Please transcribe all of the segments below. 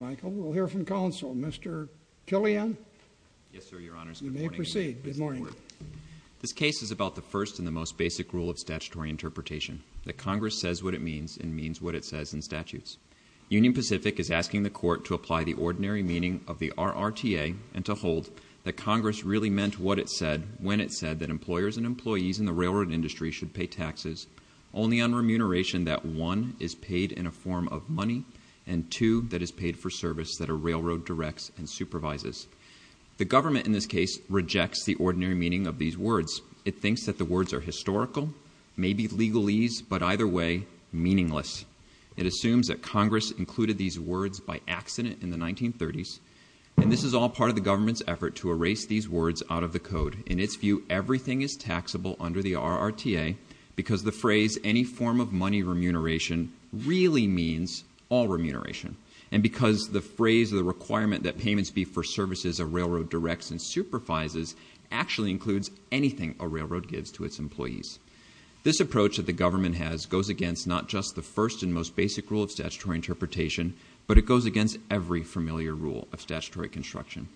Michael, we'll hear from counsel. Mr. Killian? Yes, sir, Your Honors. Good morning. You may proceed. Good morning. This case is about the first and the most basic rule of statutory interpretation, that Congress says what it means and means what it says in statutes. Union Pacific is asking the Court to apply the ordinary meaning of the RRTA and to hold that Congress really meant what it said when it said that employers and employees in the railroad industry should pay taxes only on remuneration that 1. is paid in a form of money and 2. that is paid for service that a railroad directs and supervises. The government in this case rejects the ordinary meaning of these words. It thinks that the words are historical, maybe legalese, but either way, meaningless. It assumes that Congress included these words by accident in the 1930s, and this is all part of the government's effort to erase these words out of the code. In its view, everything is taxable under the RRTA because the phrase any form of money remuneration really means all remuneration, and because the phrase or the requirement that payments be for services a railroad directs and supervises actually includes anything a railroad gives to its employees. This approach that the government has goes against not just the first and most basic rule of statutory interpretation, but it goes against every familiar rule of statutory construction.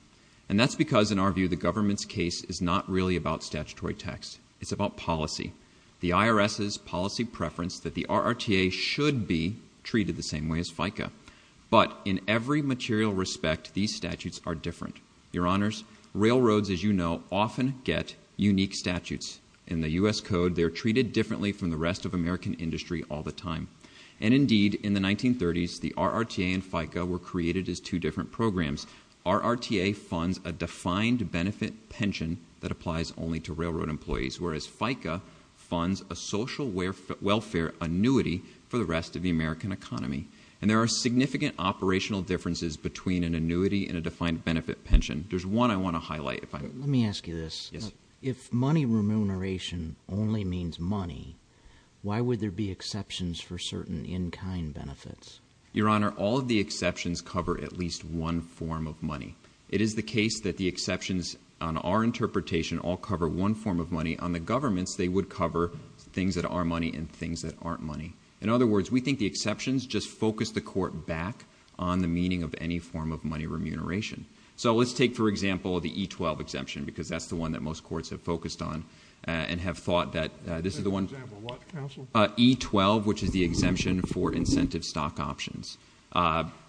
And that's because, in our view, the government's case is not really about statutory tax. It's about policy, the IRS's policy preference that the RRTA should be treated the same way as FICA. But in every material respect, these statutes are different. Your Honors, railroads, as you know, often get unique statutes. In the U.S. Code, they're treated differently from the rest of American industry all the time. And indeed, in the 1930s, the RRTA and FICA were created as two different programs. RRTA funds a defined benefit pension that applies only to railroad employees, whereas FICA funds a social welfare annuity for the rest of the American economy. And there are significant operational differences between an annuity and a defined benefit pension. There's one I want to highlight. Let me ask you this. Yes. If money remuneration only means money, why would there be exceptions for certain in-kind benefits? Your Honor, all of the exceptions cover at least one form of money. It is the case that the exceptions on our interpretation all cover one form of money. On the government's, they would cover things that are money and things that aren't money. In other words, we think the exceptions just focus the court back on the meaning of any form of money remuneration. So let's take, for example, the E-12 exemption because that's the one that most courts have focused on and have thought that this is the one. For example, what, counsel? E-12, which is the exemption for incentive stock options.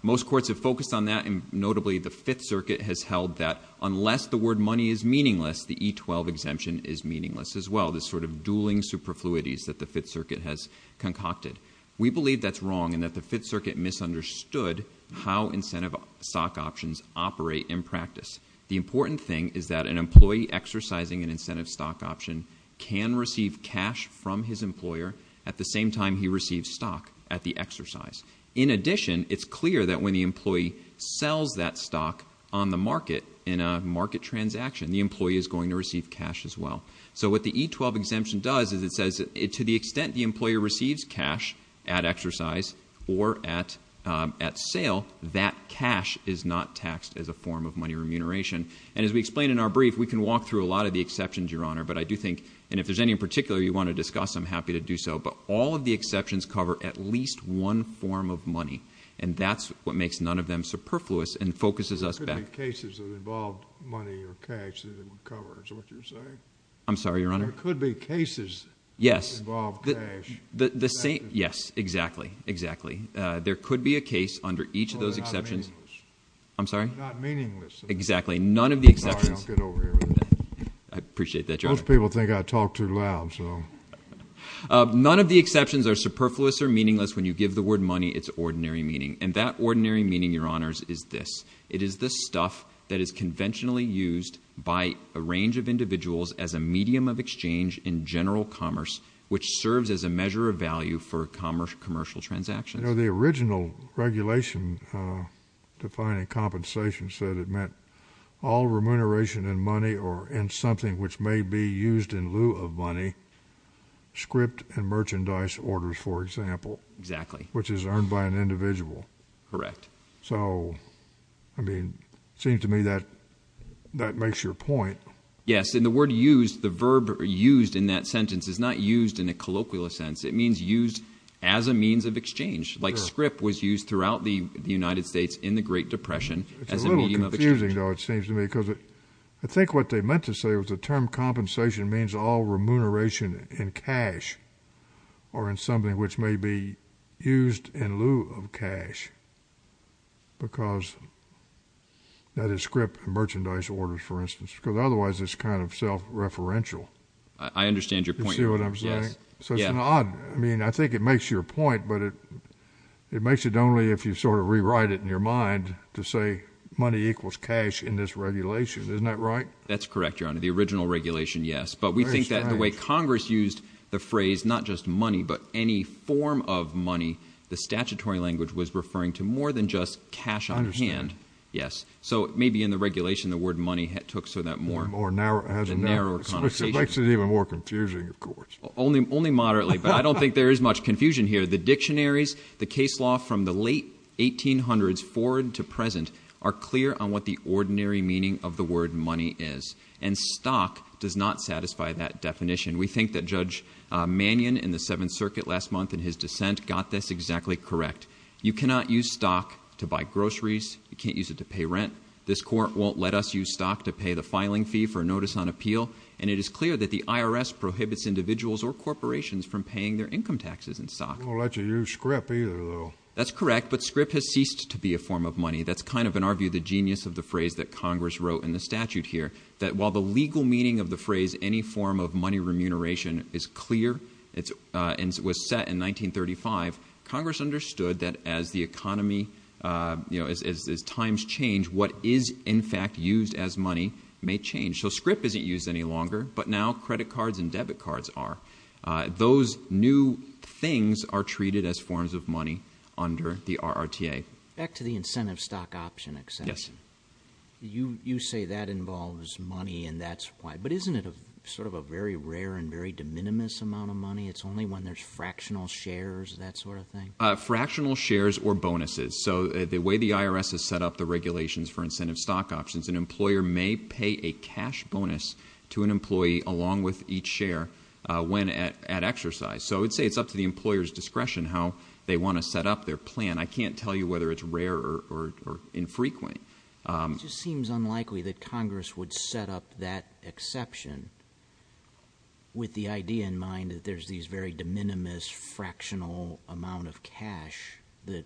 Most courts have focused on that, and notably the Fifth Circuit has held that unless the word money is meaningless, the E-12 exemption is meaningless as well, this sort of dueling superfluities that the Fifth Circuit has concocted. We believe that's wrong and that the Fifth Circuit misunderstood how incentive stock options operate in practice. The important thing is that an employee exercising an incentive stock option can receive cash from his employer at the same time he receives stock at the exercise. In addition, it's clear that when the employee sells that stock on the market in a market transaction, the employee is going to receive cash as well. So what the E-12 exemption does is it says to the extent the employer receives cash at exercise or at sale, that cash is not taxed as a form of money remuneration. And as we explained in our brief, we can walk through a lot of the exceptions, Your Honor. But I do think, and if there's any in particular you want to discuss, I'm happy to do so. But all of the exceptions cover at least one form of money, and that's what makes none of them superfluous and focuses us back. There could be cases that involve money or cash that it would cover, is that what you're saying? I'm sorry, Your Honor. There could be cases that involve cash. Yes, exactly, exactly. There could be a case under each of those exceptions. Well, they're not meaningless. I'm sorry? They're not meaningless. Exactly. None of the exceptions. Sorry, don't get over here with that. I appreciate that, Your Honor. Most people think I talk too loud, so. None of the exceptions are superfluous or meaningless. When you give the word money, it's ordinary meaning. And that ordinary meaning, Your Honors, is this. It is the stuff that is conventionally used by a range of individuals as a medium of exchange in general commerce, which serves as a measure of value for commercial transactions. You know, the original regulation defining compensation said it meant all remuneration in money or in something which may be used in lieu of money, script and merchandise orders, for example. Exactly. Which is earned by an individual. Correct. So, I mean, it seems to me that that makes your point. Yes, and the word used, the verb used in that sentence is not used in a colloquial sense. It means used as a means of exchange, like script was used throughout the United States in the Great Depression as a medium of exchange. I think what they meant to say was the term compensation means all remuneration in cash or in something which may be used in lieu of cash, because that is script and merchandise orders, for instance, because otherwise it's kind of self-referential. I understand your point. You see what I'm saying? Yes. I mean, I think it makes your point, but it makes it only if you sort of rewrite it in your mind to say money equals cash in this regulation. Isn't that right? That's correct, Your Honor. The original regulation, yes. But we think that the way Congress used the phrase not just money but any form of money, the statutory language was referring to more than just cash on hand. I understand. Yes. So, maybe in the regulation the word money took sort of that more narrower connotation. It makes it even more confusing, of course. Only moderately, but I don't think there is much confusion here. The dictionaries, the case law from the late 1800s forward to present are clear on what the ordinary meaning of the word money is. And stock does not satisfy that definition. We think that Judge Mannion in the Seventh Circuit last month in his dissent got this exactly correct. You cannot use stock to buy groceries. You can't use it to pay rent. This court won't let us use stock to pay the filing fee for a notice on appeal. And it is clear that the IRS prohibits individuals or corporations from paying their income taxes in stock. They won't let you use scrip either, though. That's correct. But scrip has ceased to be a form of money. That's kind of, in our view, the genius of the phrase that Congress wrote in the statute here, that while the legal meaning of the phrase any form of money remuneration is clear and was set in 1935, Congress understood that as the economy, you know, as times change, what is in fact used as money may change. So scrip isn't used any longer, but now credit cards and debit cards are. Those new things are treated as forms of money under the RRTA. Back to the incentive stock option exception. Yes. You say that involves money and that's why. But isn't it sort of a very rare and very de minimis amount of money? It's only when there's fractional shares, that sort of thing? Fractional shares or bonuses. So the way the IRS has set up the regulations for incentive stock options, an employer may pay a cash bonus to an employee along with each share when at exercise. So I would say it's up to the employer's discretion how they want to set up their plan. I can't tell you whether it's rare or infrequent. It just seems unlikely that Congress would set up that exception with the idea in mind that there's these very de minimis, fractional amount of cash that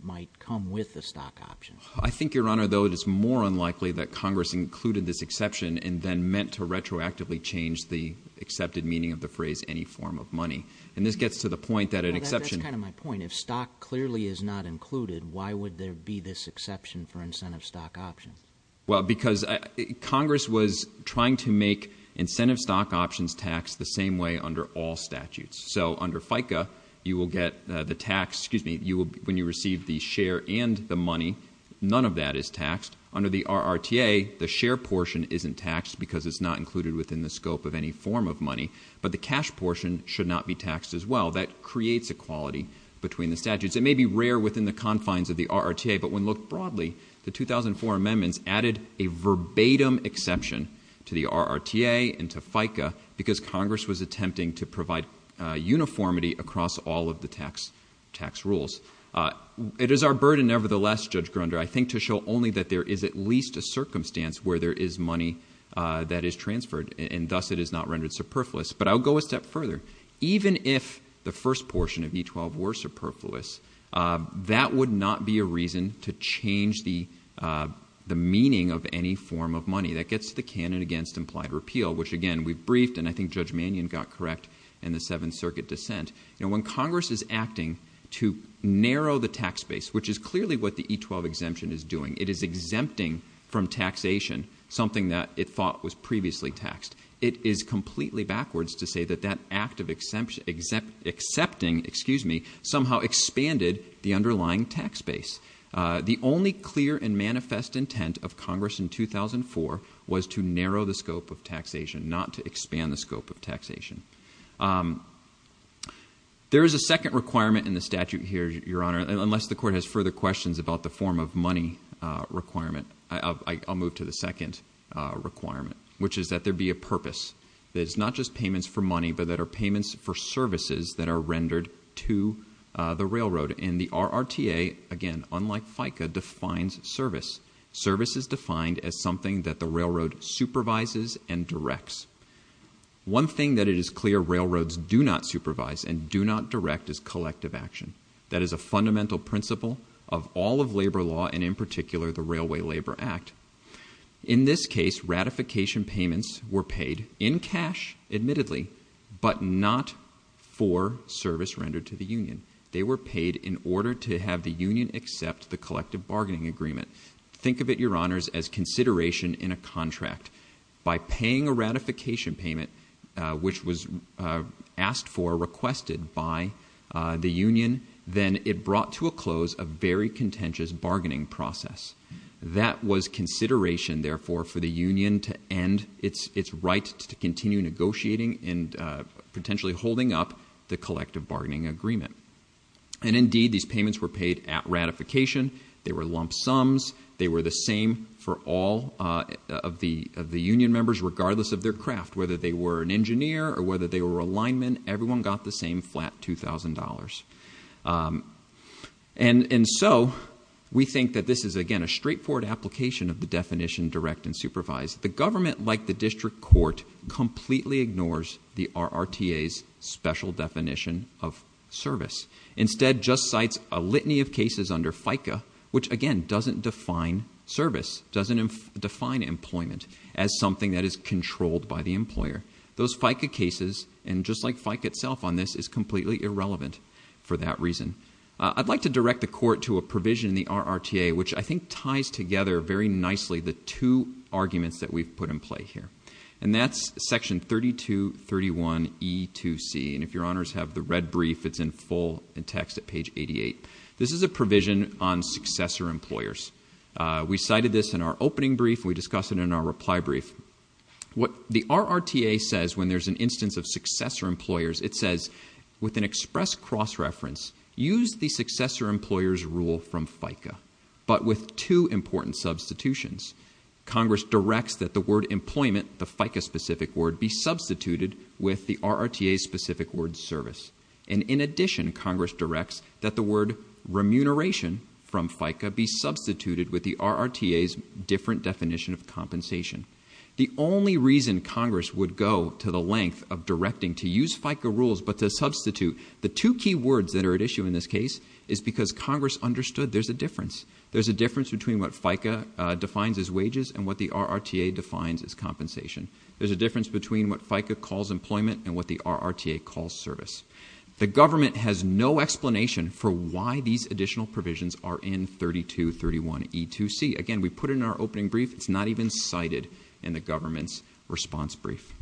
might come with the stock option. I think, Your Honor, though, it is more unlikely that Congress included this exception and then meant to retroactively change the accepted meaning of the phrase any form of money. And this gets to the point that an exception. That's kind of my point. If stock clearly is not included, why would there be this exception for incentive stock options? Well, because Congress was trying to make incentive stock options taxed the same way under all statutes. So under FICA, you will get the tax, excuse me, when you receive the share and the money, none of that is taxed. Under the RRTA, the share portion isn't taxed because it's not included within the scope of any form of money, but the cash portion should not be taxed as well. That creates equality between the statutes. It may be rare within the confines of the RRTA, but when looked broadly, the 2004 amendments added a verbatim exception to the RRTA and to FICA because Congress was attempting to provide uniformity across all of the tax rules. It is our burden, nevertheless, Judge Grunder, I think, to show only that there is at least a circumstance where there is money that is transferred, and thus it is not rendered superfluous. But I'll go a step further. Even if the first portion of E-12 were superfluous, that would not be a reason to change the meaning of any form of money. That gets to the canon against implied repeal, which, again, we've briefed, and I think Judge Mannion got correct in the Seventh Circuit dissent. When Congress is acting to narrow the tax base, which is clearly what the E-12 exemption is doing, it is exempting from taxation something that it thought was previously taxed. It is completely backwards to say that that act of accepting somehow expanded the underlying tax base. The only clear and manifest intent of Congress in 2004 was to narrow the scope of taxation, not to expand the scope of taxation. There is a second requirement in the statute here, Your Honor, unless the Court has further questions about the form of money requirement. I'll move to the second requirement, which is that there be a purpose, that it's not just payments for money but that are payments for services that are rendered to the railroad. And the RRTA, again, unlike FICA, defines service. Service is defined as something that the railroad supervises and directs. One thing that it is clear railroads do not supervise and do not direct is collective action. That is a fundamental principle of all of labor law and, in particular, the Railway Labor Act. In this case, ratification payments were paid in cash, admittedly, but not for service rendered to the union. They were paid in order to have the union accept the collective bargaining agreement. Think of it, Your Honors, as consideration in a contract. By paying a ratification payment, which was asked for, requested by the union, then it brought to a close a very contentious bargaining process. That was consideration, therefore, for the union to end its right to continue negotiating and potentially holding up the collective bargaining agreement. And, indeed, these payments were paid at ratification. They were lump sums. They were the same for all of the union members, regardless of their craft, whether they were an engineer or whether they were a lineman. Everyone got the same flat $2,000. And so we think that this is, again, a straightforward application of the definition direct and supervised. The government, like the district court, completely ignores the RRTA's special definition of service. Instead, just cites a litany of cases under FICA, which, again, doesn't define service, doesn't define employment as something that is controlled by the employer. Those FICA cases, and just like FICA itself on this, is completely irrelevant for that reason. I'd like to direct the court to a provision in the RRTA, which I think ties together very nicely the two arguments that we've put in play here, and that's Section 3231E2C. And if your honors have the red brief, it's in full in text at page 88. This is a provision on successor employers. We cited this in our opening brief. We discussed it in our reply brief. What the RRTA says when there's an instance of successor employers, it says, with an express cross-reference, use the successor employer's rule from FICA, but with two important substitutions. Congress directs that the word employment, the FICA-specific word, be substituted with the RRTA-specific word service. And in addition, Congress directs that the word remuneration from FICA be substituted with the RRTA's different definition of compensation. The only reason Congress would go to the length of directing to use FICA rules but to substitute the two key words that are at issue in this case is because Congress understood there's a difference. There's a difference between what FICA defines as wages and what the RRTA defines as compensation. There's a difference between what FICA calls employment and what the RRTA calls service. The government has no explanation for why these additional provisions are in 3231E2C. Again, we put it in our opening brief. It's not even cited in the government's response brief.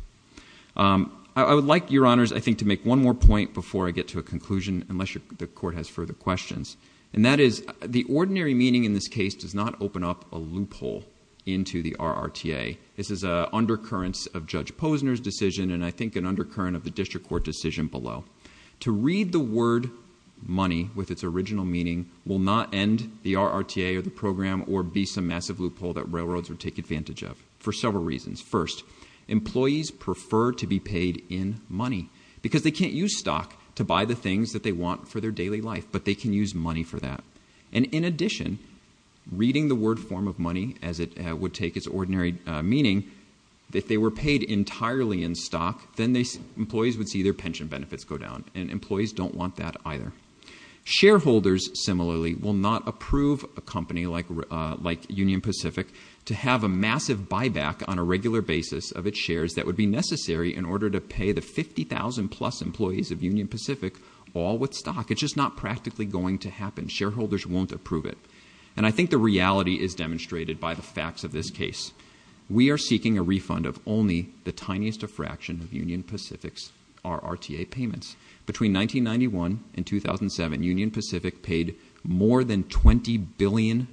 I would like, Your Honors, I think, to make one more point before I get to a conclusion, unless the court has further questions, and that is the ordinary meaning in this case does not open up a loophole into the RRTA. This is an undercurrent of Judge Posner's decision and I think an undercurrent of the district court decision below. To read the word money with its original meaning will not end the RRTA or the program or be some massive loophole that railroads would take advantage of for several reasons. First, employees prefer to be paid in money because they can't use stock to buy the things that they want for their daily life, but they can use money for that. And in addition, reading the word form of money as it would take its ordinary meaning, if they were paid entirely in stock, then employees would see their pension benefits go down, and employees don't want that either. Shareholders, similarly, will not approve a company like Union Pacific to have a massive buyback on a regular basis of its shares that would be necessary in order to pay the 50,000-plus employees of Union Pacific all with stock. It's just not practically going to happen. Shareholders won't approve it. And I think the reality is demonstrated by the facts of this case. We are seeking a refund of only the tiniest fraction of Union Pacific's RRTA payments. Between 1991 and 2007, Union Pacific paid more than $20 billion in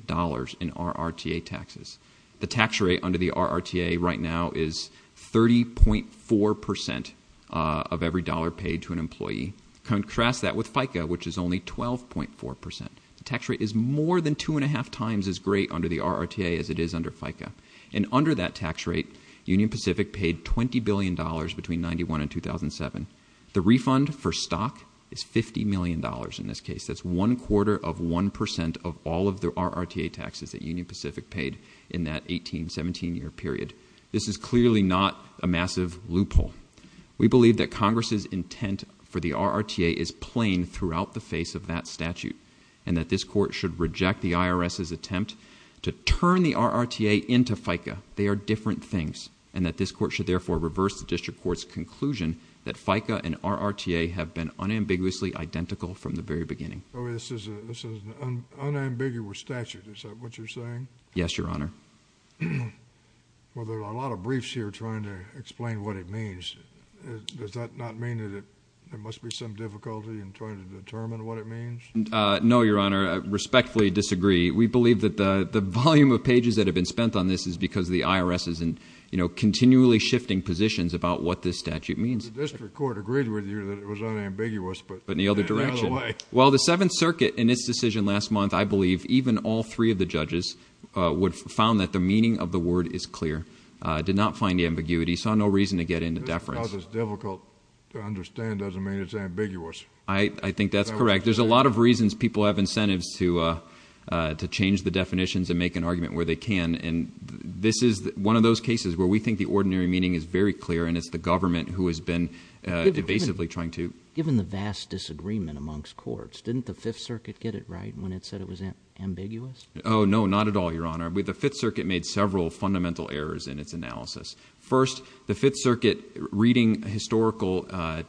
RRTA taxes. The tax rate under the RRTA right now is 30.4 percent of every dollar paid to an employee. Contrast that with FICA, which is only 12.4 percent. The tax rate is more than two and a half times as great under the RRTA as it is under FICA. And under that tax rate, Union Pacific paid $20 billion between 1991 and 2007. The refund for stock is $50 million in this case. That's one quarter of one percent of all of the RRTA taxes that Union Pacific paid in that 18-, 17-year period. This is clearly not a massive loophole. We believe that Congress's intent for the RRTA is plain throughout the face of that statute and that this court should reject the IRS's attempt to turn the RRTA into FICA. They are different things. And that this court should therefore reverse the district court's conclusion that FICA and RRTA have been unambiguously identical from the very beginning. This is an unambiguous statute. Is that what you're saying? Yes, Your Honor. Well, there are a lot of briefs here trying to explain what it means. Does that not mean that there must be some difficulty in trying to determine what it means? No, Your Honor. I respectfully disagree. We believe that the volume of pages that have been spent on this is because the IRS is continually shifting positions about what this statute means. The district court agreed with you that it was unambiguous, but in another way. Well, the Seventh Circuit in its decision last month, I believe, even all three of the judges found that the meaning of the word is clear. It did not find ambiguity. It saw no reason to get into deference. Just because it's difficult to understand doesn't mean it's ambiguous. I think that's correct. There's a lot of reasons people have incentives to change the definitions and make an argument where they can, and this is one of those cases where we think the ordinary meaning is very clear, and it's the government who has been evasively trying to— Given the vast disagreement amongst courts, didn't the Fifth Circuit get it right when it said it was ambiguous? Oh, no, not at all, Your Honor. The Fifth Circuit made several fundamental errors in its analysis. First, the Fifth Circuit, reading historical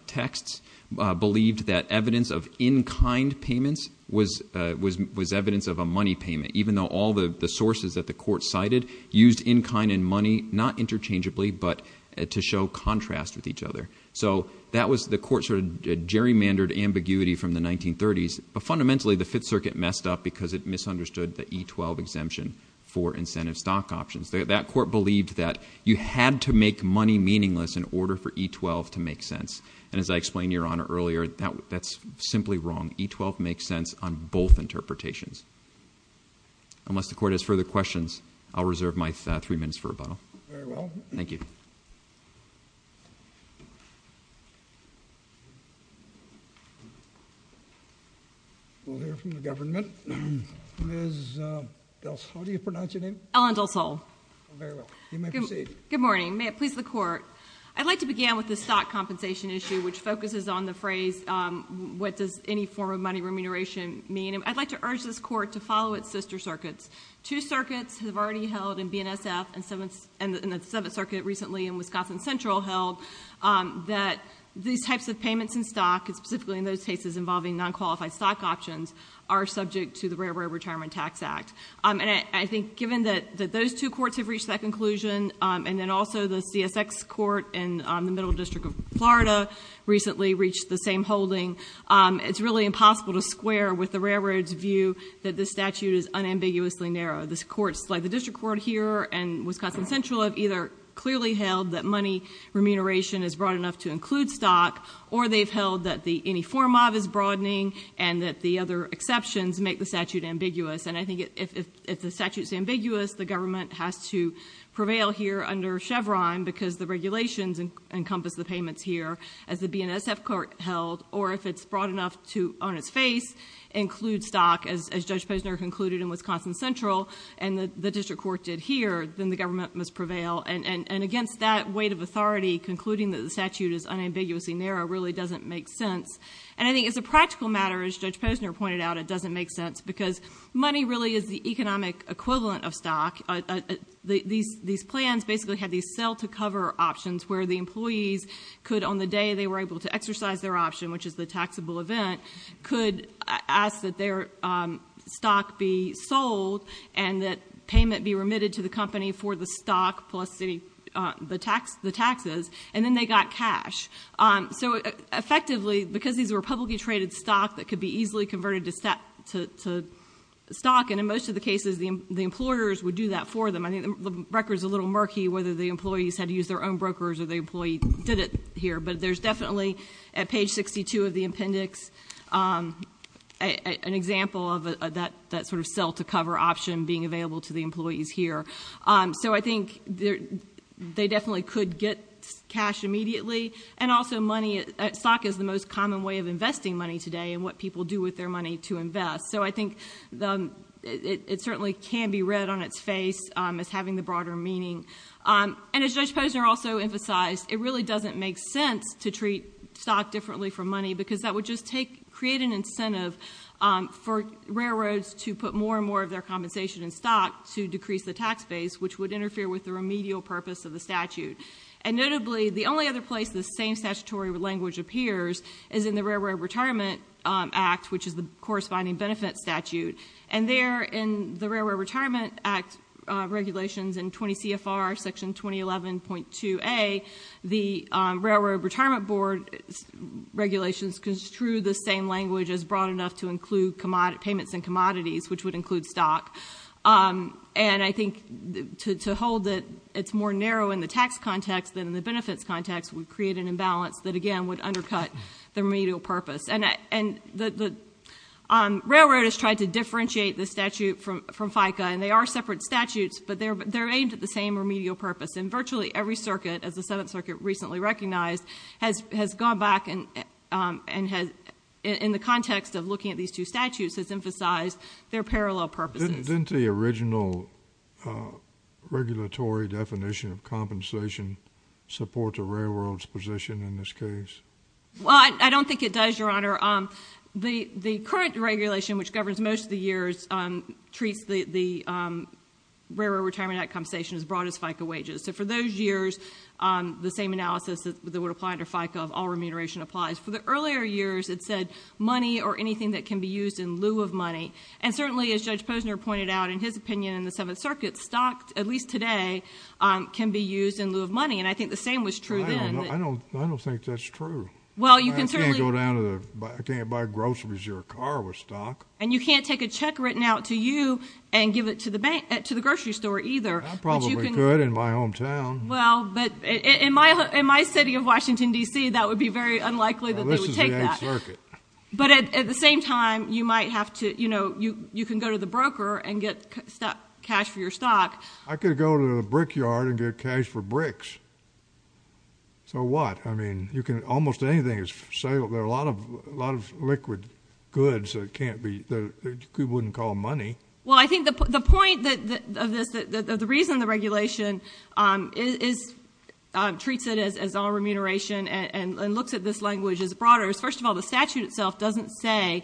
texts, believed that evidence of in-kind payments was evidence of a money payment, even though all the sources that the court cited used in-kind and money, not interchangeably, but to show contrast with each other. So the court sort of gerrymandered ambiguity from the 1930s, but fundamentally the Fifth Circuit messed up because it misunderstood the E-12 exemption for incentive stock options. That court believed that you had to make money meaningless in order for E-12 to make sense, and as I explained to Your Honor earlier, that's simply wrong. E-12 makes sense on both interpretations. Unless the court has further questions, I'll reserve my three minutes for rebuttal. Very well. Thank you. We'll hear from the government. Ms. Delsol, how do you pronounce your name? Ellen Delsol. Very well. You may proceed. Good morning. May it please the Court. I'd like to begin with the stock compensation issue, which focuses on the phrase, what does any form of money remuneration mean? I'd like to urge this Court to follow its sister circuits. Two circuits have already held in BNSF, and the Seventh Circuit recently in Wisconsin Central held that these types of payments in stock, and specifically in those cases involving non-qualified stock options, are subject to the Railroad Retirement Tax Act. And I think given that those two courts have reached that conclusion, and then also the CSX Court in the Middle District of Florida recently reached the same holding, it's really impossible to square with the Railroad's view that this statute is unambiguously narrow. The courts, like the District Court here and Wisconsin Central, have either clearly held that money remuneration is broad enough to include stock, or they've held that the any form of is broadening, and that the other exceptions make the statute ambiguous. And I think if the statute's ambiguous, the government has to prevail here under Chevron because the regulations encompass the payments here, as the BNSF Court held, or if it's broad enough to, on its face, include stock, as Judge Posner concluded in Wisconsin Central, and the District Court did here, then the government must prevail. And against that weight of authority, concluding that the statute is unambiguously narrow really doesn't make sense. And I think as a practical matter, as Judge Posner pointed out, it doesn't make sense, because money really is the economic equivalent of stock. These plans basically have these sell-to-cover options where the employees could, on the day they were able to exercise their option, which is the taxable event, could ask that their stock be sold and that payment be remitted to the company for the stock plus the taxes, and then they got cash. So effectively, because these were publicly traded stock that could be easily converted to stock, and in most of the cases, the employers would do that for them. I think the record's a little murky whether the employees had to use their own brokers or the employee did it here, but there's definitely, at page 62 of the appendix, an example of that sort of sell-to-cover option being available to the employees here. So I think they definitely could get cash immediately, and also money... is the most common way of investing money today and what people do with their money to invest. So I think it certainly can be read on its face as having the broader meaning. And as Judge Posner also emphasized, it really doesn't make sense to treat stock differently from money, because that would just create an incentive for railroads to put more and more of their compensation in stock to decrease the tax base, which would interfere with the remedial purpose of the statute. And notably, the only other place this same statutory language appears is in the Railroad Retirement Act, which is the corresponding benefit statute. And there, in the Railroad Retirement Act regulations in 20 CFR section 2011.2a, the Railroad Retirement Board regulations construe the same language as broad enough to include payments and commodities, which would include stock. And I think to hold that it's more narrow in the tax context than in the benefits context would create an imbalance that, again, would undercut the remedial purpose. And the railroad has tried to differentiate the statute from FICA, and they are separate statutes, but they're aimed at the same remedial purpose. And virtually every circuit, as the Seventh Circuit recently recognized, has gone back and, in the context of looking at these two statutes, has emphasized their parallel purposes. Didn't the original regulatory definition of compensation support the Railroad's position in this case? Well, I don't think it does, Your Honor. The current regulation, which governs most of the years, treats the Railroad Retirement Act compensation as broad as FICA wages. So for those years, the same analysis that would apply to FICA of all remuneration applies. For the earlier years, it said money or anything that can be used in lieu of money. And certainly, as Judge Posner pointed out, in his opinion in the Seventh Circuit, stock, at least today, can be used in lieu of money. And I think the same was true then. I don't think that's true. I can't buy groceries or a car with stock. And you can't take a check written out to you and give it to the grocery store either. I probably could in my hometown. Well, but in my city of Washington, D.C., that would be very unlikely that they would take that. Well, this is the Eighth Circuit. But at the same time, you might have to... You know, you can go to the broker and get cash for your stock. I could go to a brickyard and get cash for bricks. So what? I mean, almost anything is for sale. There are a lot of liquid goods that can't be... that you wouldn't call money. Well, I think the point of this, the reason the regulation treats it as all remuneration and looks at this language as broad is, first of all, the statute itself doesn't say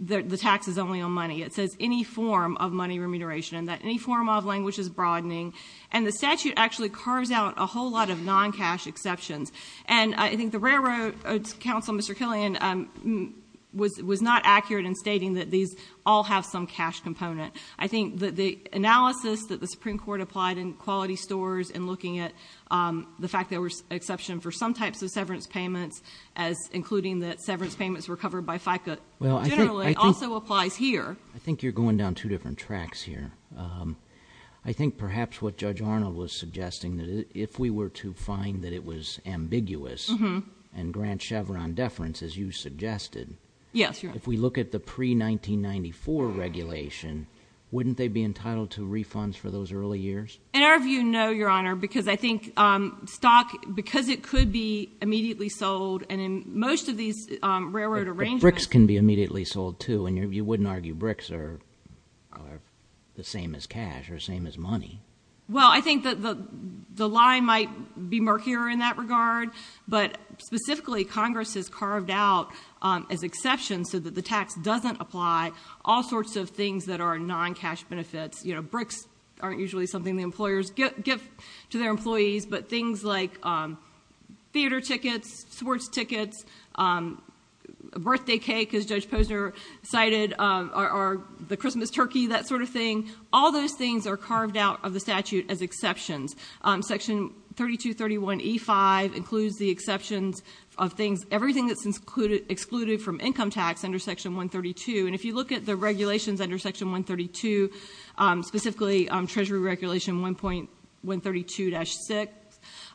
that the tax is only on money. It says any form of money remuneration and that any form of language is broadening. And the statute actually carves out a whole lot of non-cash exceptions. And I think the Railroad Council, Mr. Killian, was not accurate in stating that these all have some cash component. I think that the analysis that the Supreme Court applied in quality stores in looking at the fact that there was exception for some types of severance payments, including that severance payments were covered by FICA, generally, also applies here. I think you're going down two different tracks here. I think perhaps what Judge Arnold was suggesting, that if we were to find that it was ambiguous and grant Chevron deference, as you suggested, if we look at the pre-1994 regulation, wouldn't they be entitled to refunds for those early years? In our view, no, Your Honor, because I think stock, because it could be immediately sold, and in most of these railroad arrangements... But BRICS can be immediately sold too, and you wouldn't argue BRICS are the same as cash or same as money. Well, I think that the line might be murkier in that regard, but specifically Congress has carved out as exceptions so that the tax doesn't apply all sorts of things that are non-cash benefits. BRICS aren't usually something the employers give to their employees, but things like theater tickets, sports tickets, birthday cake, as Judge Posner cited, or the Christmas turkey, that sort of thing. All those things are carved out of the statute as exceptions. Section 3231E5 includes the exceptions of things, everything that's excluded from income tax under Section 132. And if you look at the regulations under Section 132, specifically Treasury Regulation 1.132-6,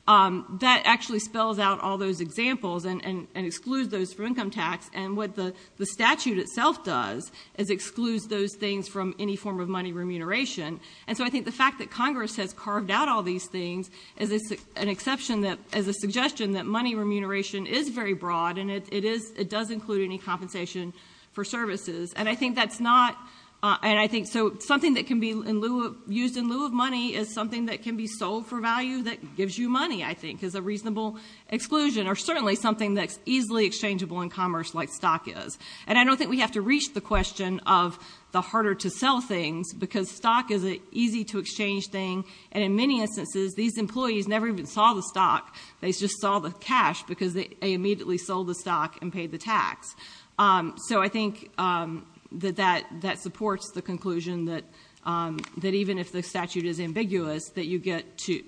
that actually spells out all those examples and excludes those from income tax, and what the statute itself does is excludes those things from any form of money remuneration. And so I think the fact that Congress has carved out all these things is an exception that is a suggestion that money remuneration is very broad, and it does include any compensation for services. And I think that's not... So something that can be used in lieu of money is something that can be sold for value that gives you money, I think, is a reasonable exclusion, or certainly something that's easily exchangeable in commerce like stock is. And I don't think we have to reach the question of the harder-to-sell things because stock is an easy-to-exchange thing, and in many instances these employees never even saw the stock, they just saw the cash because they immediately sold the stock and paid the tax. So I think that that supports the conclusion that even if the statute is ambiguous, that you get to...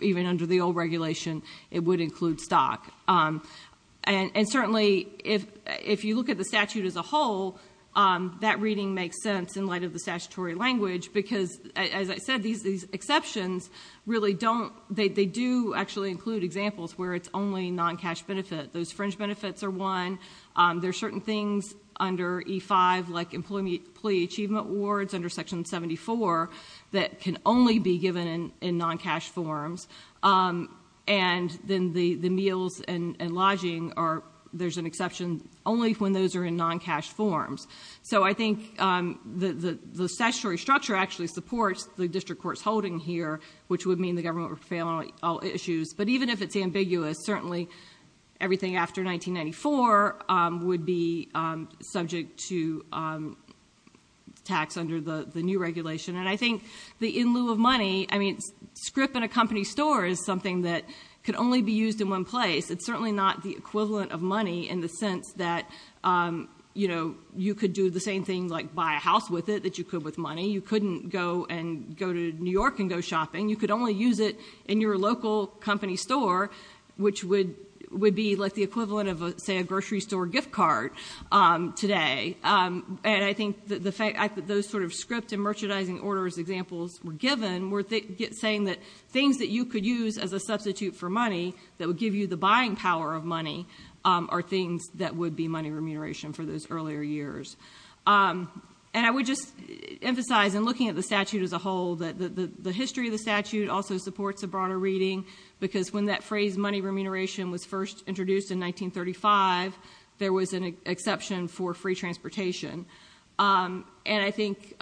Even under the old regulation, it would include stock. And certainly if you look at the statute as a whole, that reading makes sense in light of the statutory language because, as I said, these exceptions really don't... They don't include examples where it's only non-cash benefit. Those fringe benefits are one. There are certain things under E-5, like Employee Achievement Awards under Section 74, that can only be given in non-cash forms. And then the meals and lodging are... There's an exception only when those are in non-cash forms. So I think the statutory structure actually supports the district court's holding here, which would mean the government would fail on all issues. But even if it's ambiguous, certainly everything after 1994 would be subject to tax under the new regulation. And I think the in-lieu of money... I mean, a script in a company store is something that could only be used in one place. It's certainly not the equivalent of money in the sense that, you know, you could do the same thing, like buy a house with it, that you could with money. You couldn't go to New York and go shopping. You could only use it in your local company store, which would be, like, the equivalent of, say, a grocery store gift card today. And I think those sort of script and merchandising orders examples were given were saying that things that you could use as a substitute for money that would give you the buying power of money are things that would be money remuneration for those earlier years. And I would just emphasize, in looking at the statute as a whole, that the history of the statute also supports a broader reading because when that phrase, money remuneration, was first introduced in 1935, there was an exception for free transportation. And I think,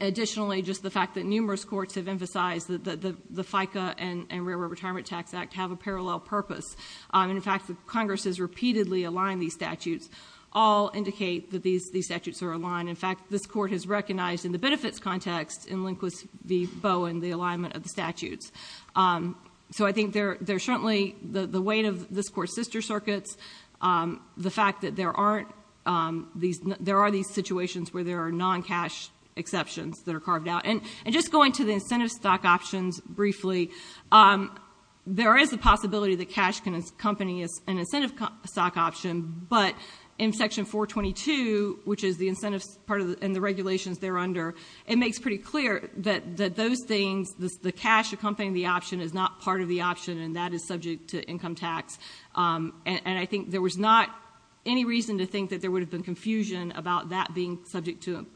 additionally, just the fact that numerous courts have emphasized that the FICA and Railroad Retirement Tax Act have a parallel purpose. In fact, Congress has repeatedly aligned these statutes all indicate that these statutes are aligned. In fact, this court has recognized, in the benefits context, in Lindquist v. Bowen, the alignment of the statutes. So I think there's certainly the weight of this court's sister circuits, the fact that there are these situations where there are non-cash exceptions that are carved out. And just going to the incentive stock options briefly, there is a possibility that cash can accompany an incentive stock option, but in Section 422, which is the incentive part and the regulations thereunder, it makes pretty clear that those things, the cash accompanying the option, is not part of the option, and that is subject to income tax. And I think there was not any reason to think that there would have been confusion about that being subject to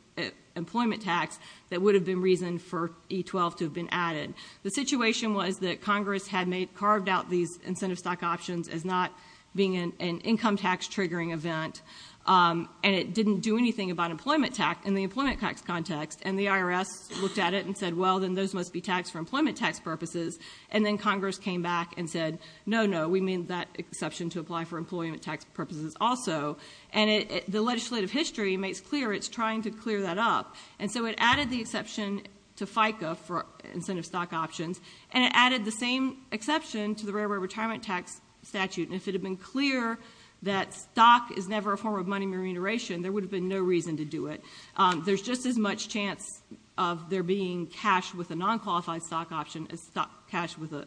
employment tax that would have been reason for E-12 to have been added. The situation was that Congress had carved out these incentive stock options as not being an income tax-triggering event, and it didn't do anything about employment tax in the employment tax context. And the IRS looked at it and said, well, then those must be taxed for employment tax purposes. And then Congress came back and said, no, no, we mean that exception to apply for employment tax purposes also. And the legislative history makes clear it's trying to clear that up. And so it added the exception to FICA for incentive stock options, and it added the same exception to the Railroad Retirement Tax Statute. And if it had been clear that stock is never a form of money remuneration, there would have been no reason to do it. There's just as much chance of there being cash with a non-qualified stock option as cash with an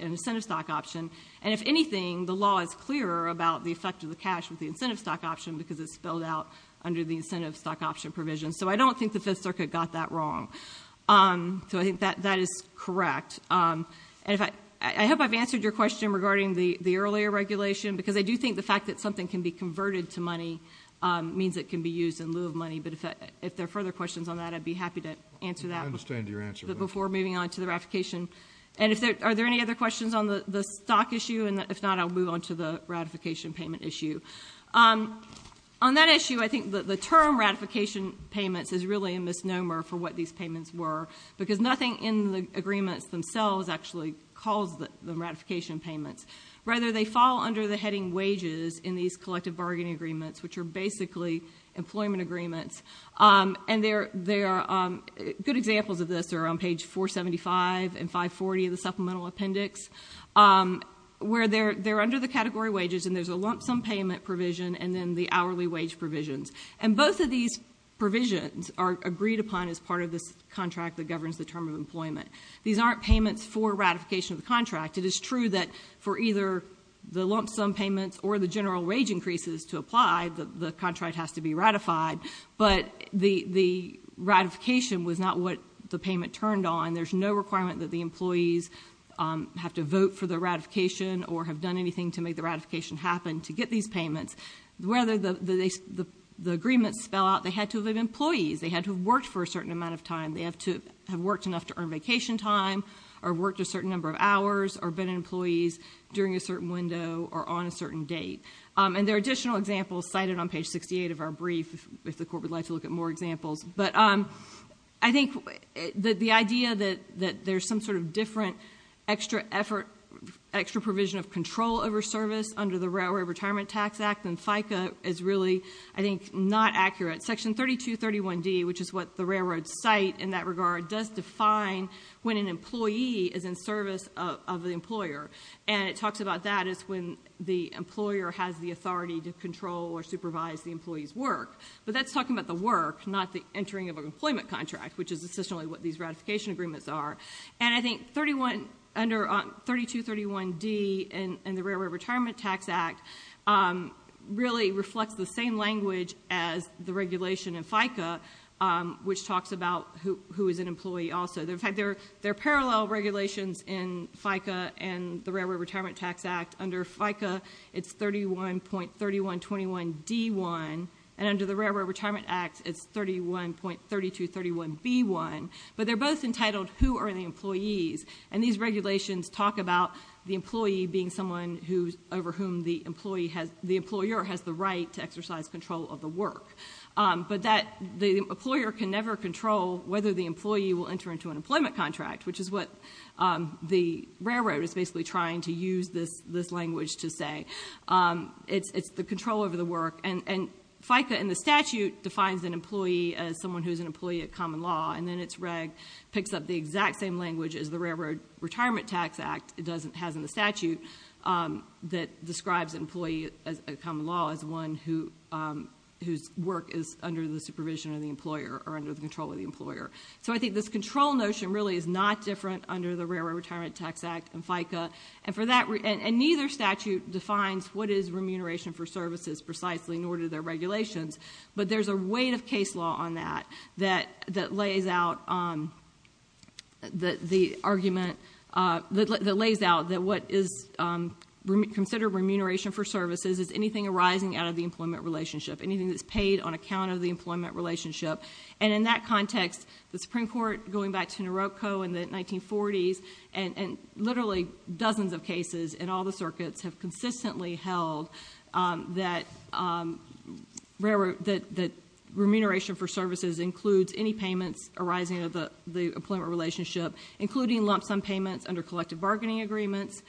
incentive stock option. And if anything, the law is clearer about the effect of the cash with the incentive stock option because it's spelled out under the incentive stock option provision. So I don't think the Fifth Circuit got that wrong. So I think that is correct. And I hope I've answered your question regarding the earlier regulation, because I do think the fact that something can be converted to money means it can be used in lieu of money. But if there are further questions on that, I'd be happy to answer that before moving on to the ratification. And are there any other questions on the stock issue? And if not, I'll move on to the ratification payment issue. On that issue, I think the term ratification payments is really a misnomer for what these payments were, because nothing in the agreements themselves actually calls them ratification payments. Rather, they fall under the heading wages in these collective bargaining agreements, which are basically employment agreements. And there are good examples of this. They're on page 475 and 540 of the Supplemental Appendix, where they're under the category wages, and there's a lump-sum payment provision and then the hourly wage provisions. And both of these provisions are agreed upon as part of this contract that governs the term of employment. These aren't payments for ratification of the contract. It is true that for either the lump-sum payments or the general wage increases to apply, the contract has to be ratified, but the ratification was not what the payment turned on. There's no requirement that the employees have to vote for the ratification or have done anything to make the ratification happen to get these payments. Whether the agreements spell out they had to have been employees, they had to have worked for a certain amount of time, they have to have worked enough to earn vacation time, or worked a certain number of hours, or been employees during a certain window or on a certain date. And there are additional examples cited on page 68 of our brief, if the Court would like to look at more examples. But I think that the idea that there's some sort of different extra effort, extra provision of control over service under the Railroad Retirement Tax Act, and FICA is really, I think, not accurate. Section 3231D, which is what the railroad site, in that regard, does define when an employee is in service of the employer. And it talks about that as when the employer has the authority to control or supervise the employee's work. But that's talking about the work, not the entering of an employment contract, which is essentially what these ratification agreements are. And I think under 3231D in the Railroad Retirement Tax Act really reflects the same language as the regulation in FICA, which talks about who is an employee also. In fact, there are parallel regulations in FICA and the Railroad Retirement Tax Act. Under FICA, it's 31.3121D1, and under the Railroad Retirement Act, it's 31.3231B1. But they're both entitled who are the employees, and these regulations talk about the employee being someone over whom the employer has the right to exercise control of the work. But the employer can never control whether the employee will enter into an employment contract, which is what the railroad is basically trying to use this language to say. It's the control over the work. And FICA in the statute defines an employee as someone who is an employee of common law, and then it picks up the exact same language as the Railroad Retirement Tax Act has in the statute that describes an employee of common law as one whose work is under the supervision of the employer or under the control of the employer. So I think this control notion really is not different under the Railroad Retirement Tax Act and FICA. And neither statute defines what is remuneration for services precisely, nor do their regulations. But there's a weight of case law on that that lays out the argument, that lays out that what is considered remuneration for services is anything arising out of the employment relationship, anything that's paid on account of the employment relationship. And in that context, the Supreme Court, going back to Naroko in the 1940s, and literally dozens of cases in all the circuits have consistently held that remuneration for services includes any payments arising out of the employment relationship, including lump sum payments under collective bargaining agreements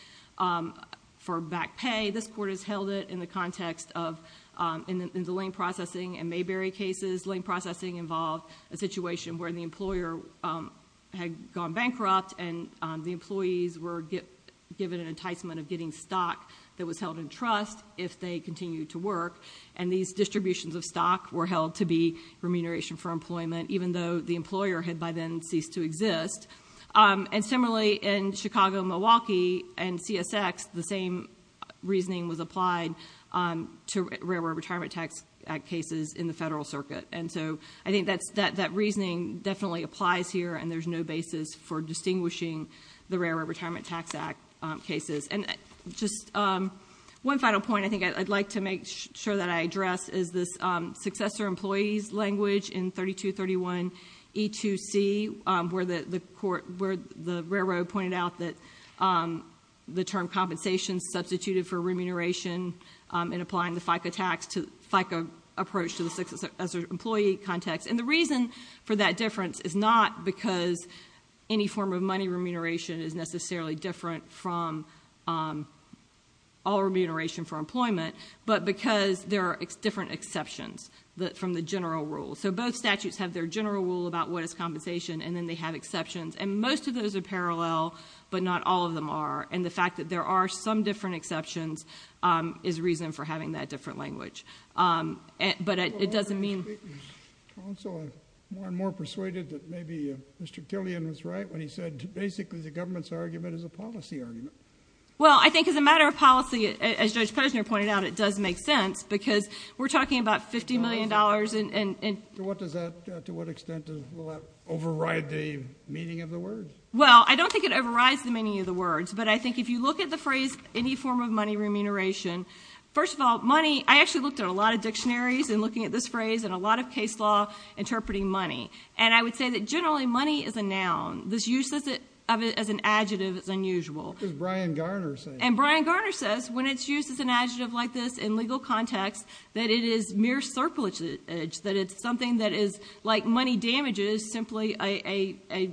for back pay. This court has held it in the context of, in the Lane Processing and Mayberry cases, Lane Processing involved a situation where the employer had gone bankrupt and the employees were given an enticement if they continued to work. And these distributions of stock were held to be remuneration for employment, even though the employer had by then ceased to exist. And similarly, in Chicago, Milwaukee, and CSX, the same reasoning was applied to Railroad Retirement Tax Act cases in the federal circuit. And so I think that reasoning definitely applies here and there's no basis for distinguishing the Railroad Retirement Tax Act cases. And just one final point I think I'd like to make sure that I address is this successor employees language in 3231E2C where the Railroad pointed out that the term compensation substituted for remuneration in applying the FICA approach to the employee context. And the reason for that difference is not because any form of money remuneration is necessarily different from all remuneration for employment, but because there are different exceptions from the general rule. So both statutes have their general rule about what is compensation and then they have exceptions. And most of those are parallel, but not all of them are. And the fact that there are some different exceptions is reason for having that different language. But it doesn't mean... Also, I'm more and more persuaded that maybe Mr. Killian was right when he said basically the government's argument is a policy argument. Well, I think as a matter of policy, as Judge Posner pointed out, it does make sense because we're talking about $50 million and... To what extent will that override the meaning of the word? Well, I don't think it overrides the meaning of the words, but I think if you look at the phrase any form of money remuneration, first of all, money... I actually looked at a lot of dictionaries in looking at this phrase and a lot of case law interpreting money. And I would say that generally money is a noun. This use of it as an adjective is unusual. What does Brian Garner say? And Brian Garner says, when it's used as an adjective like this in legal context, that it is mere surplusage, that it's something that is, like money damages, simply a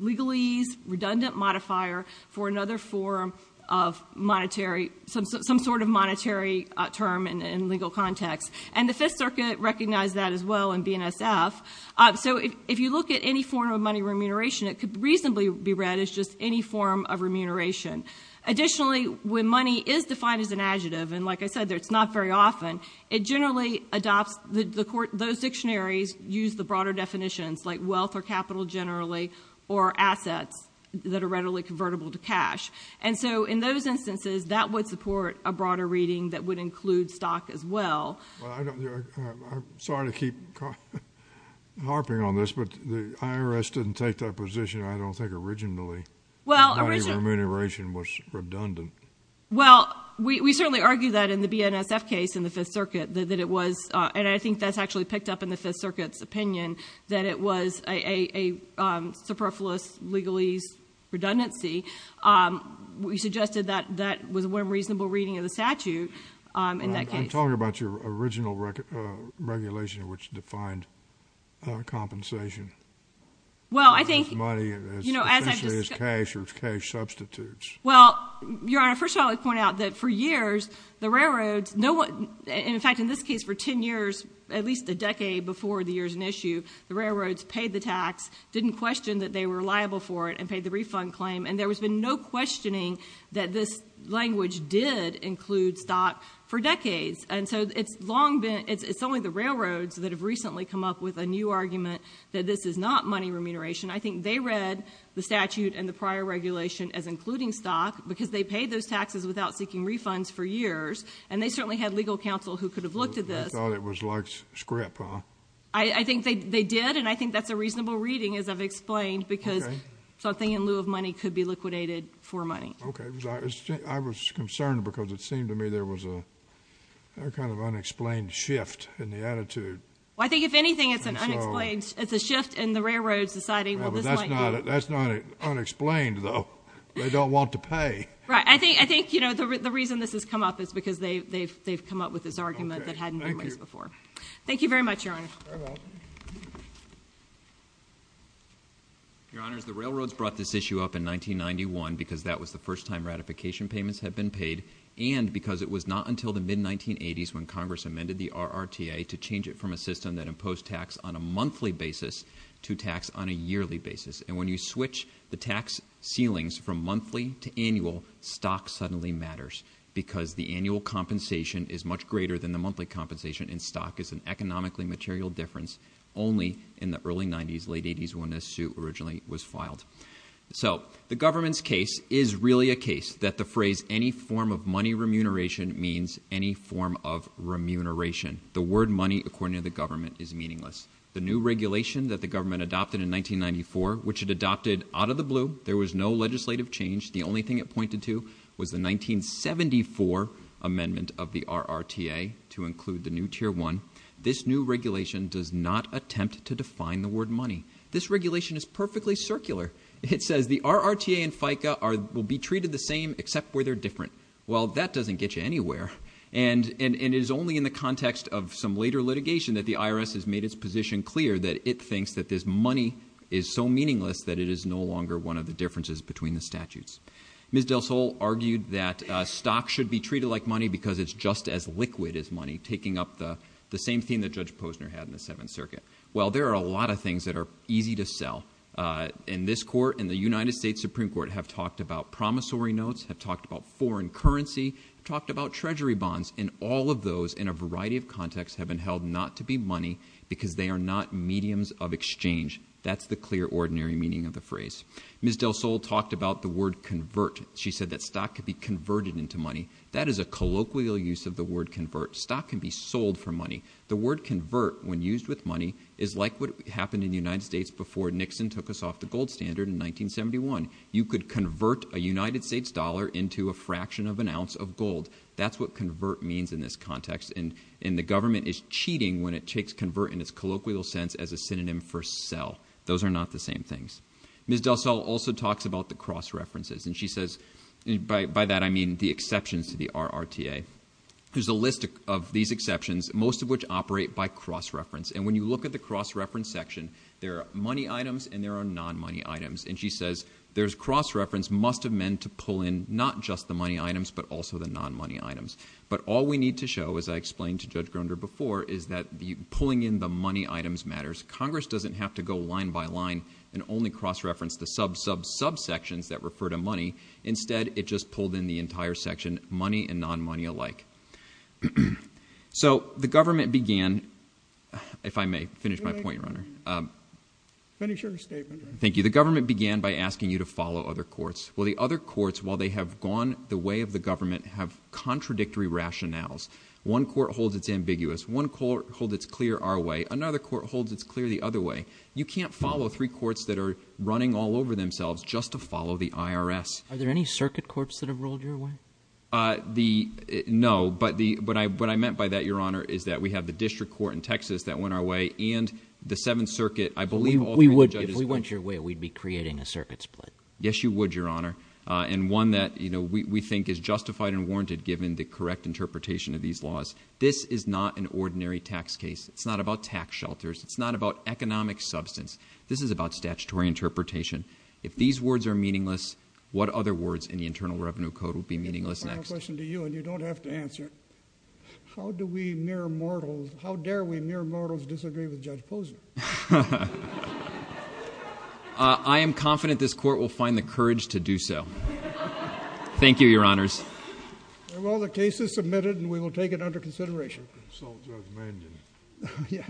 legalese, redundant modifier for another form of monetary... some sort of monetary term in legal context. And the Fifth Circuit recognized that as well in BNSF. So if you look at any form of money remuneration, it could reasonably be read as just any form of remuneration. Additionally, when money is defined as an adjective, and like I said, it's not very often, it generally adopts... those dictionaries use the broader definitions, like wealth or capital generally, or assets that are readily convertible to cash. And so in those instances, that would support a broader reading that would include stock as well. Well, I don't... I'm sorry to keep harping on this, but the IRS didn't take that position, I don't think, originally. Well, originally... That money remuneration was redundant. Well, we certainly argue that in the BNSF case in the Fifth Circuit, that it was, and I think that's actually picked up in the Fifth Circuit's opinion, that it was a superfluous legalese redundancy. We suggested that that was one reasonable reading of the statute in that case. I'm talking about your original regulation which defined compensation. Well, I think... Well, Your Honor, first of all, I would point out that for years, the railroads... In fact, in this case, for ten years, at least a decade before the year's in issue, the railroads paid the tax, didn't question that they were liable for it, and paid the refund claim, and there has been no questioning that this language did include stock for decades. And so it's long been... It's only the railroads that have recently come up with a new argument that this is not money remuneration. I think they read the statute and the prior regulation as including stock because they paid those taxes without seeking refunds for years, and they certainly had legal counsel who could have looked at this. You thought it was like script, huh? I think they did, and I think that's a reasonable reading, as I've explained, because something in lieu of money could be liquidated for money. Okay. I was concerned because it seemed to me there was a kind of unexplained shift in the attitude. Well, I think, if anything, it's an unexplained... That's not unexplained, though. They don't want to pay. Right. I think the reason this has come up is because they've come up with this argument that hadn't been raised before. Thank you. Thank you very much, Your Honor. Very well. Your Honors, the railroads brought this issue up in 1991 because that was the first time ratification payments had been paid and because it was not until the mid-1980s when Congress amended the RRTA to change it from a system that imposed tax on a monthly basis to tax on a yearly basis. And when you switch the tax ceilings from monthly to annual, stock suddenly matters because the annual compensation is much greater than the monthly compensation in stock. It's an economically material difference, only in the early 90s, late 80s, when this suit originally was filed. So the government's case is really a case that the phrase any form of money remuneration means any form of remuneration. The word money, according to the government, is meaningless. The new regulation that the government adopted in 1994, which it adopted out of the blue, there was no legislative change. The only thing it pointed to was the 1974 amendment of the RRTA to include the new Tier 1. This new regulation does not attempt to define the word money. This regulation is perfectly circular. It says the RRTA and FICA will be treated the same except where they're different. Well, that doesn't get you anywhere. And it is only in the context of some later litigation that the IRS has made its position clear that it thinks that this money is so meaningless that it is no longer one of the differences between the statutes. Ms. del Sol argued that stock should be treated like money because it's just as liquid as money, taking up the same theme that Judge Posner had in the Seventh Circuit. Well, there are a lot of things that are easy to sell. In this court, in the United States Supreme Court, have talked about promissory notes, have talked about foreign currency, have talked about treasury bonds, and all of those in a variety of contexts have been held not to be money because they are not mediums of exchange. That's the clear ordinary meaning of the phrase. Ms. del Sol talked about the word convert. She said that stock could be converted into money. That is a colloquial use of the word convert. Stock can be sold for money. The word convert, when used with money, is like what happened in the United States before Nixon took us off the gold standard in 1971. You could convert a United States dollar into a fraction of an ounce of gold. That's what convert means in this context. And the government is cheating when it takes convert in its colloquial sense as a synonym for sell. Those are not the same things. Ms. del Sol also talks about the cross-references. And she says... By that, I mean the exceptions to the RRTA. There's a list of these exceptions, most of which operate by cross-reference. And when you look at the cross-reference section, there are money items and there are non-money items. And she says there's cross-reference must have meant to pull in not just the money items, but also the non-money items. But all we need to show, as I explained to Judge Grunder before, is that pulling in the money items matters. Congress doesn't have to go line by line and only cross-reference the sub-sub-subsections that refer to money. Instead, it just pulled in the entire section, money and non-money alike. So the government began... If I may finish my point, Your Honor. Finish your statement. Thank you. The government began by asking you to follow other courts. Well, the other courts, while they have gone the way of the government, have contradictory rationales. One court holds it's ambiguous. One court holds it's clear our way. Another court holds it's clear the other way. You can't follow three courts that are running all over themselves just to follow the IRS. Are there any circuit courts that have rolled your way? Uh, the... No. But what I meant by that, Your Honor, is that we have the District Court in Texas that went our way, and the Seventh Circuit. I believe all three of the judges... If we went your way, we'd be creating a circuit split. Yes, you would, Your Honor. And one that, you know, we think is justified and warranted given the correct interpretation of these laws. This is not an ordinary tax case. It's not about tax shelters. It's not about economic substance. This is about statutory interpretation. If these words are meaningless, what other words in the Internal Revenue Code would be meaningless next? Final question to you, and you don't have to answer. How do we mere mortals... How dare we mere mortals disagree with Judge Posner? Ha ha. Uh, I am confident this Court will find the courage to do so. Thank you, Your Honors. Well, the case is submitted, and we will take it under consideration. Consult Judge Mangin.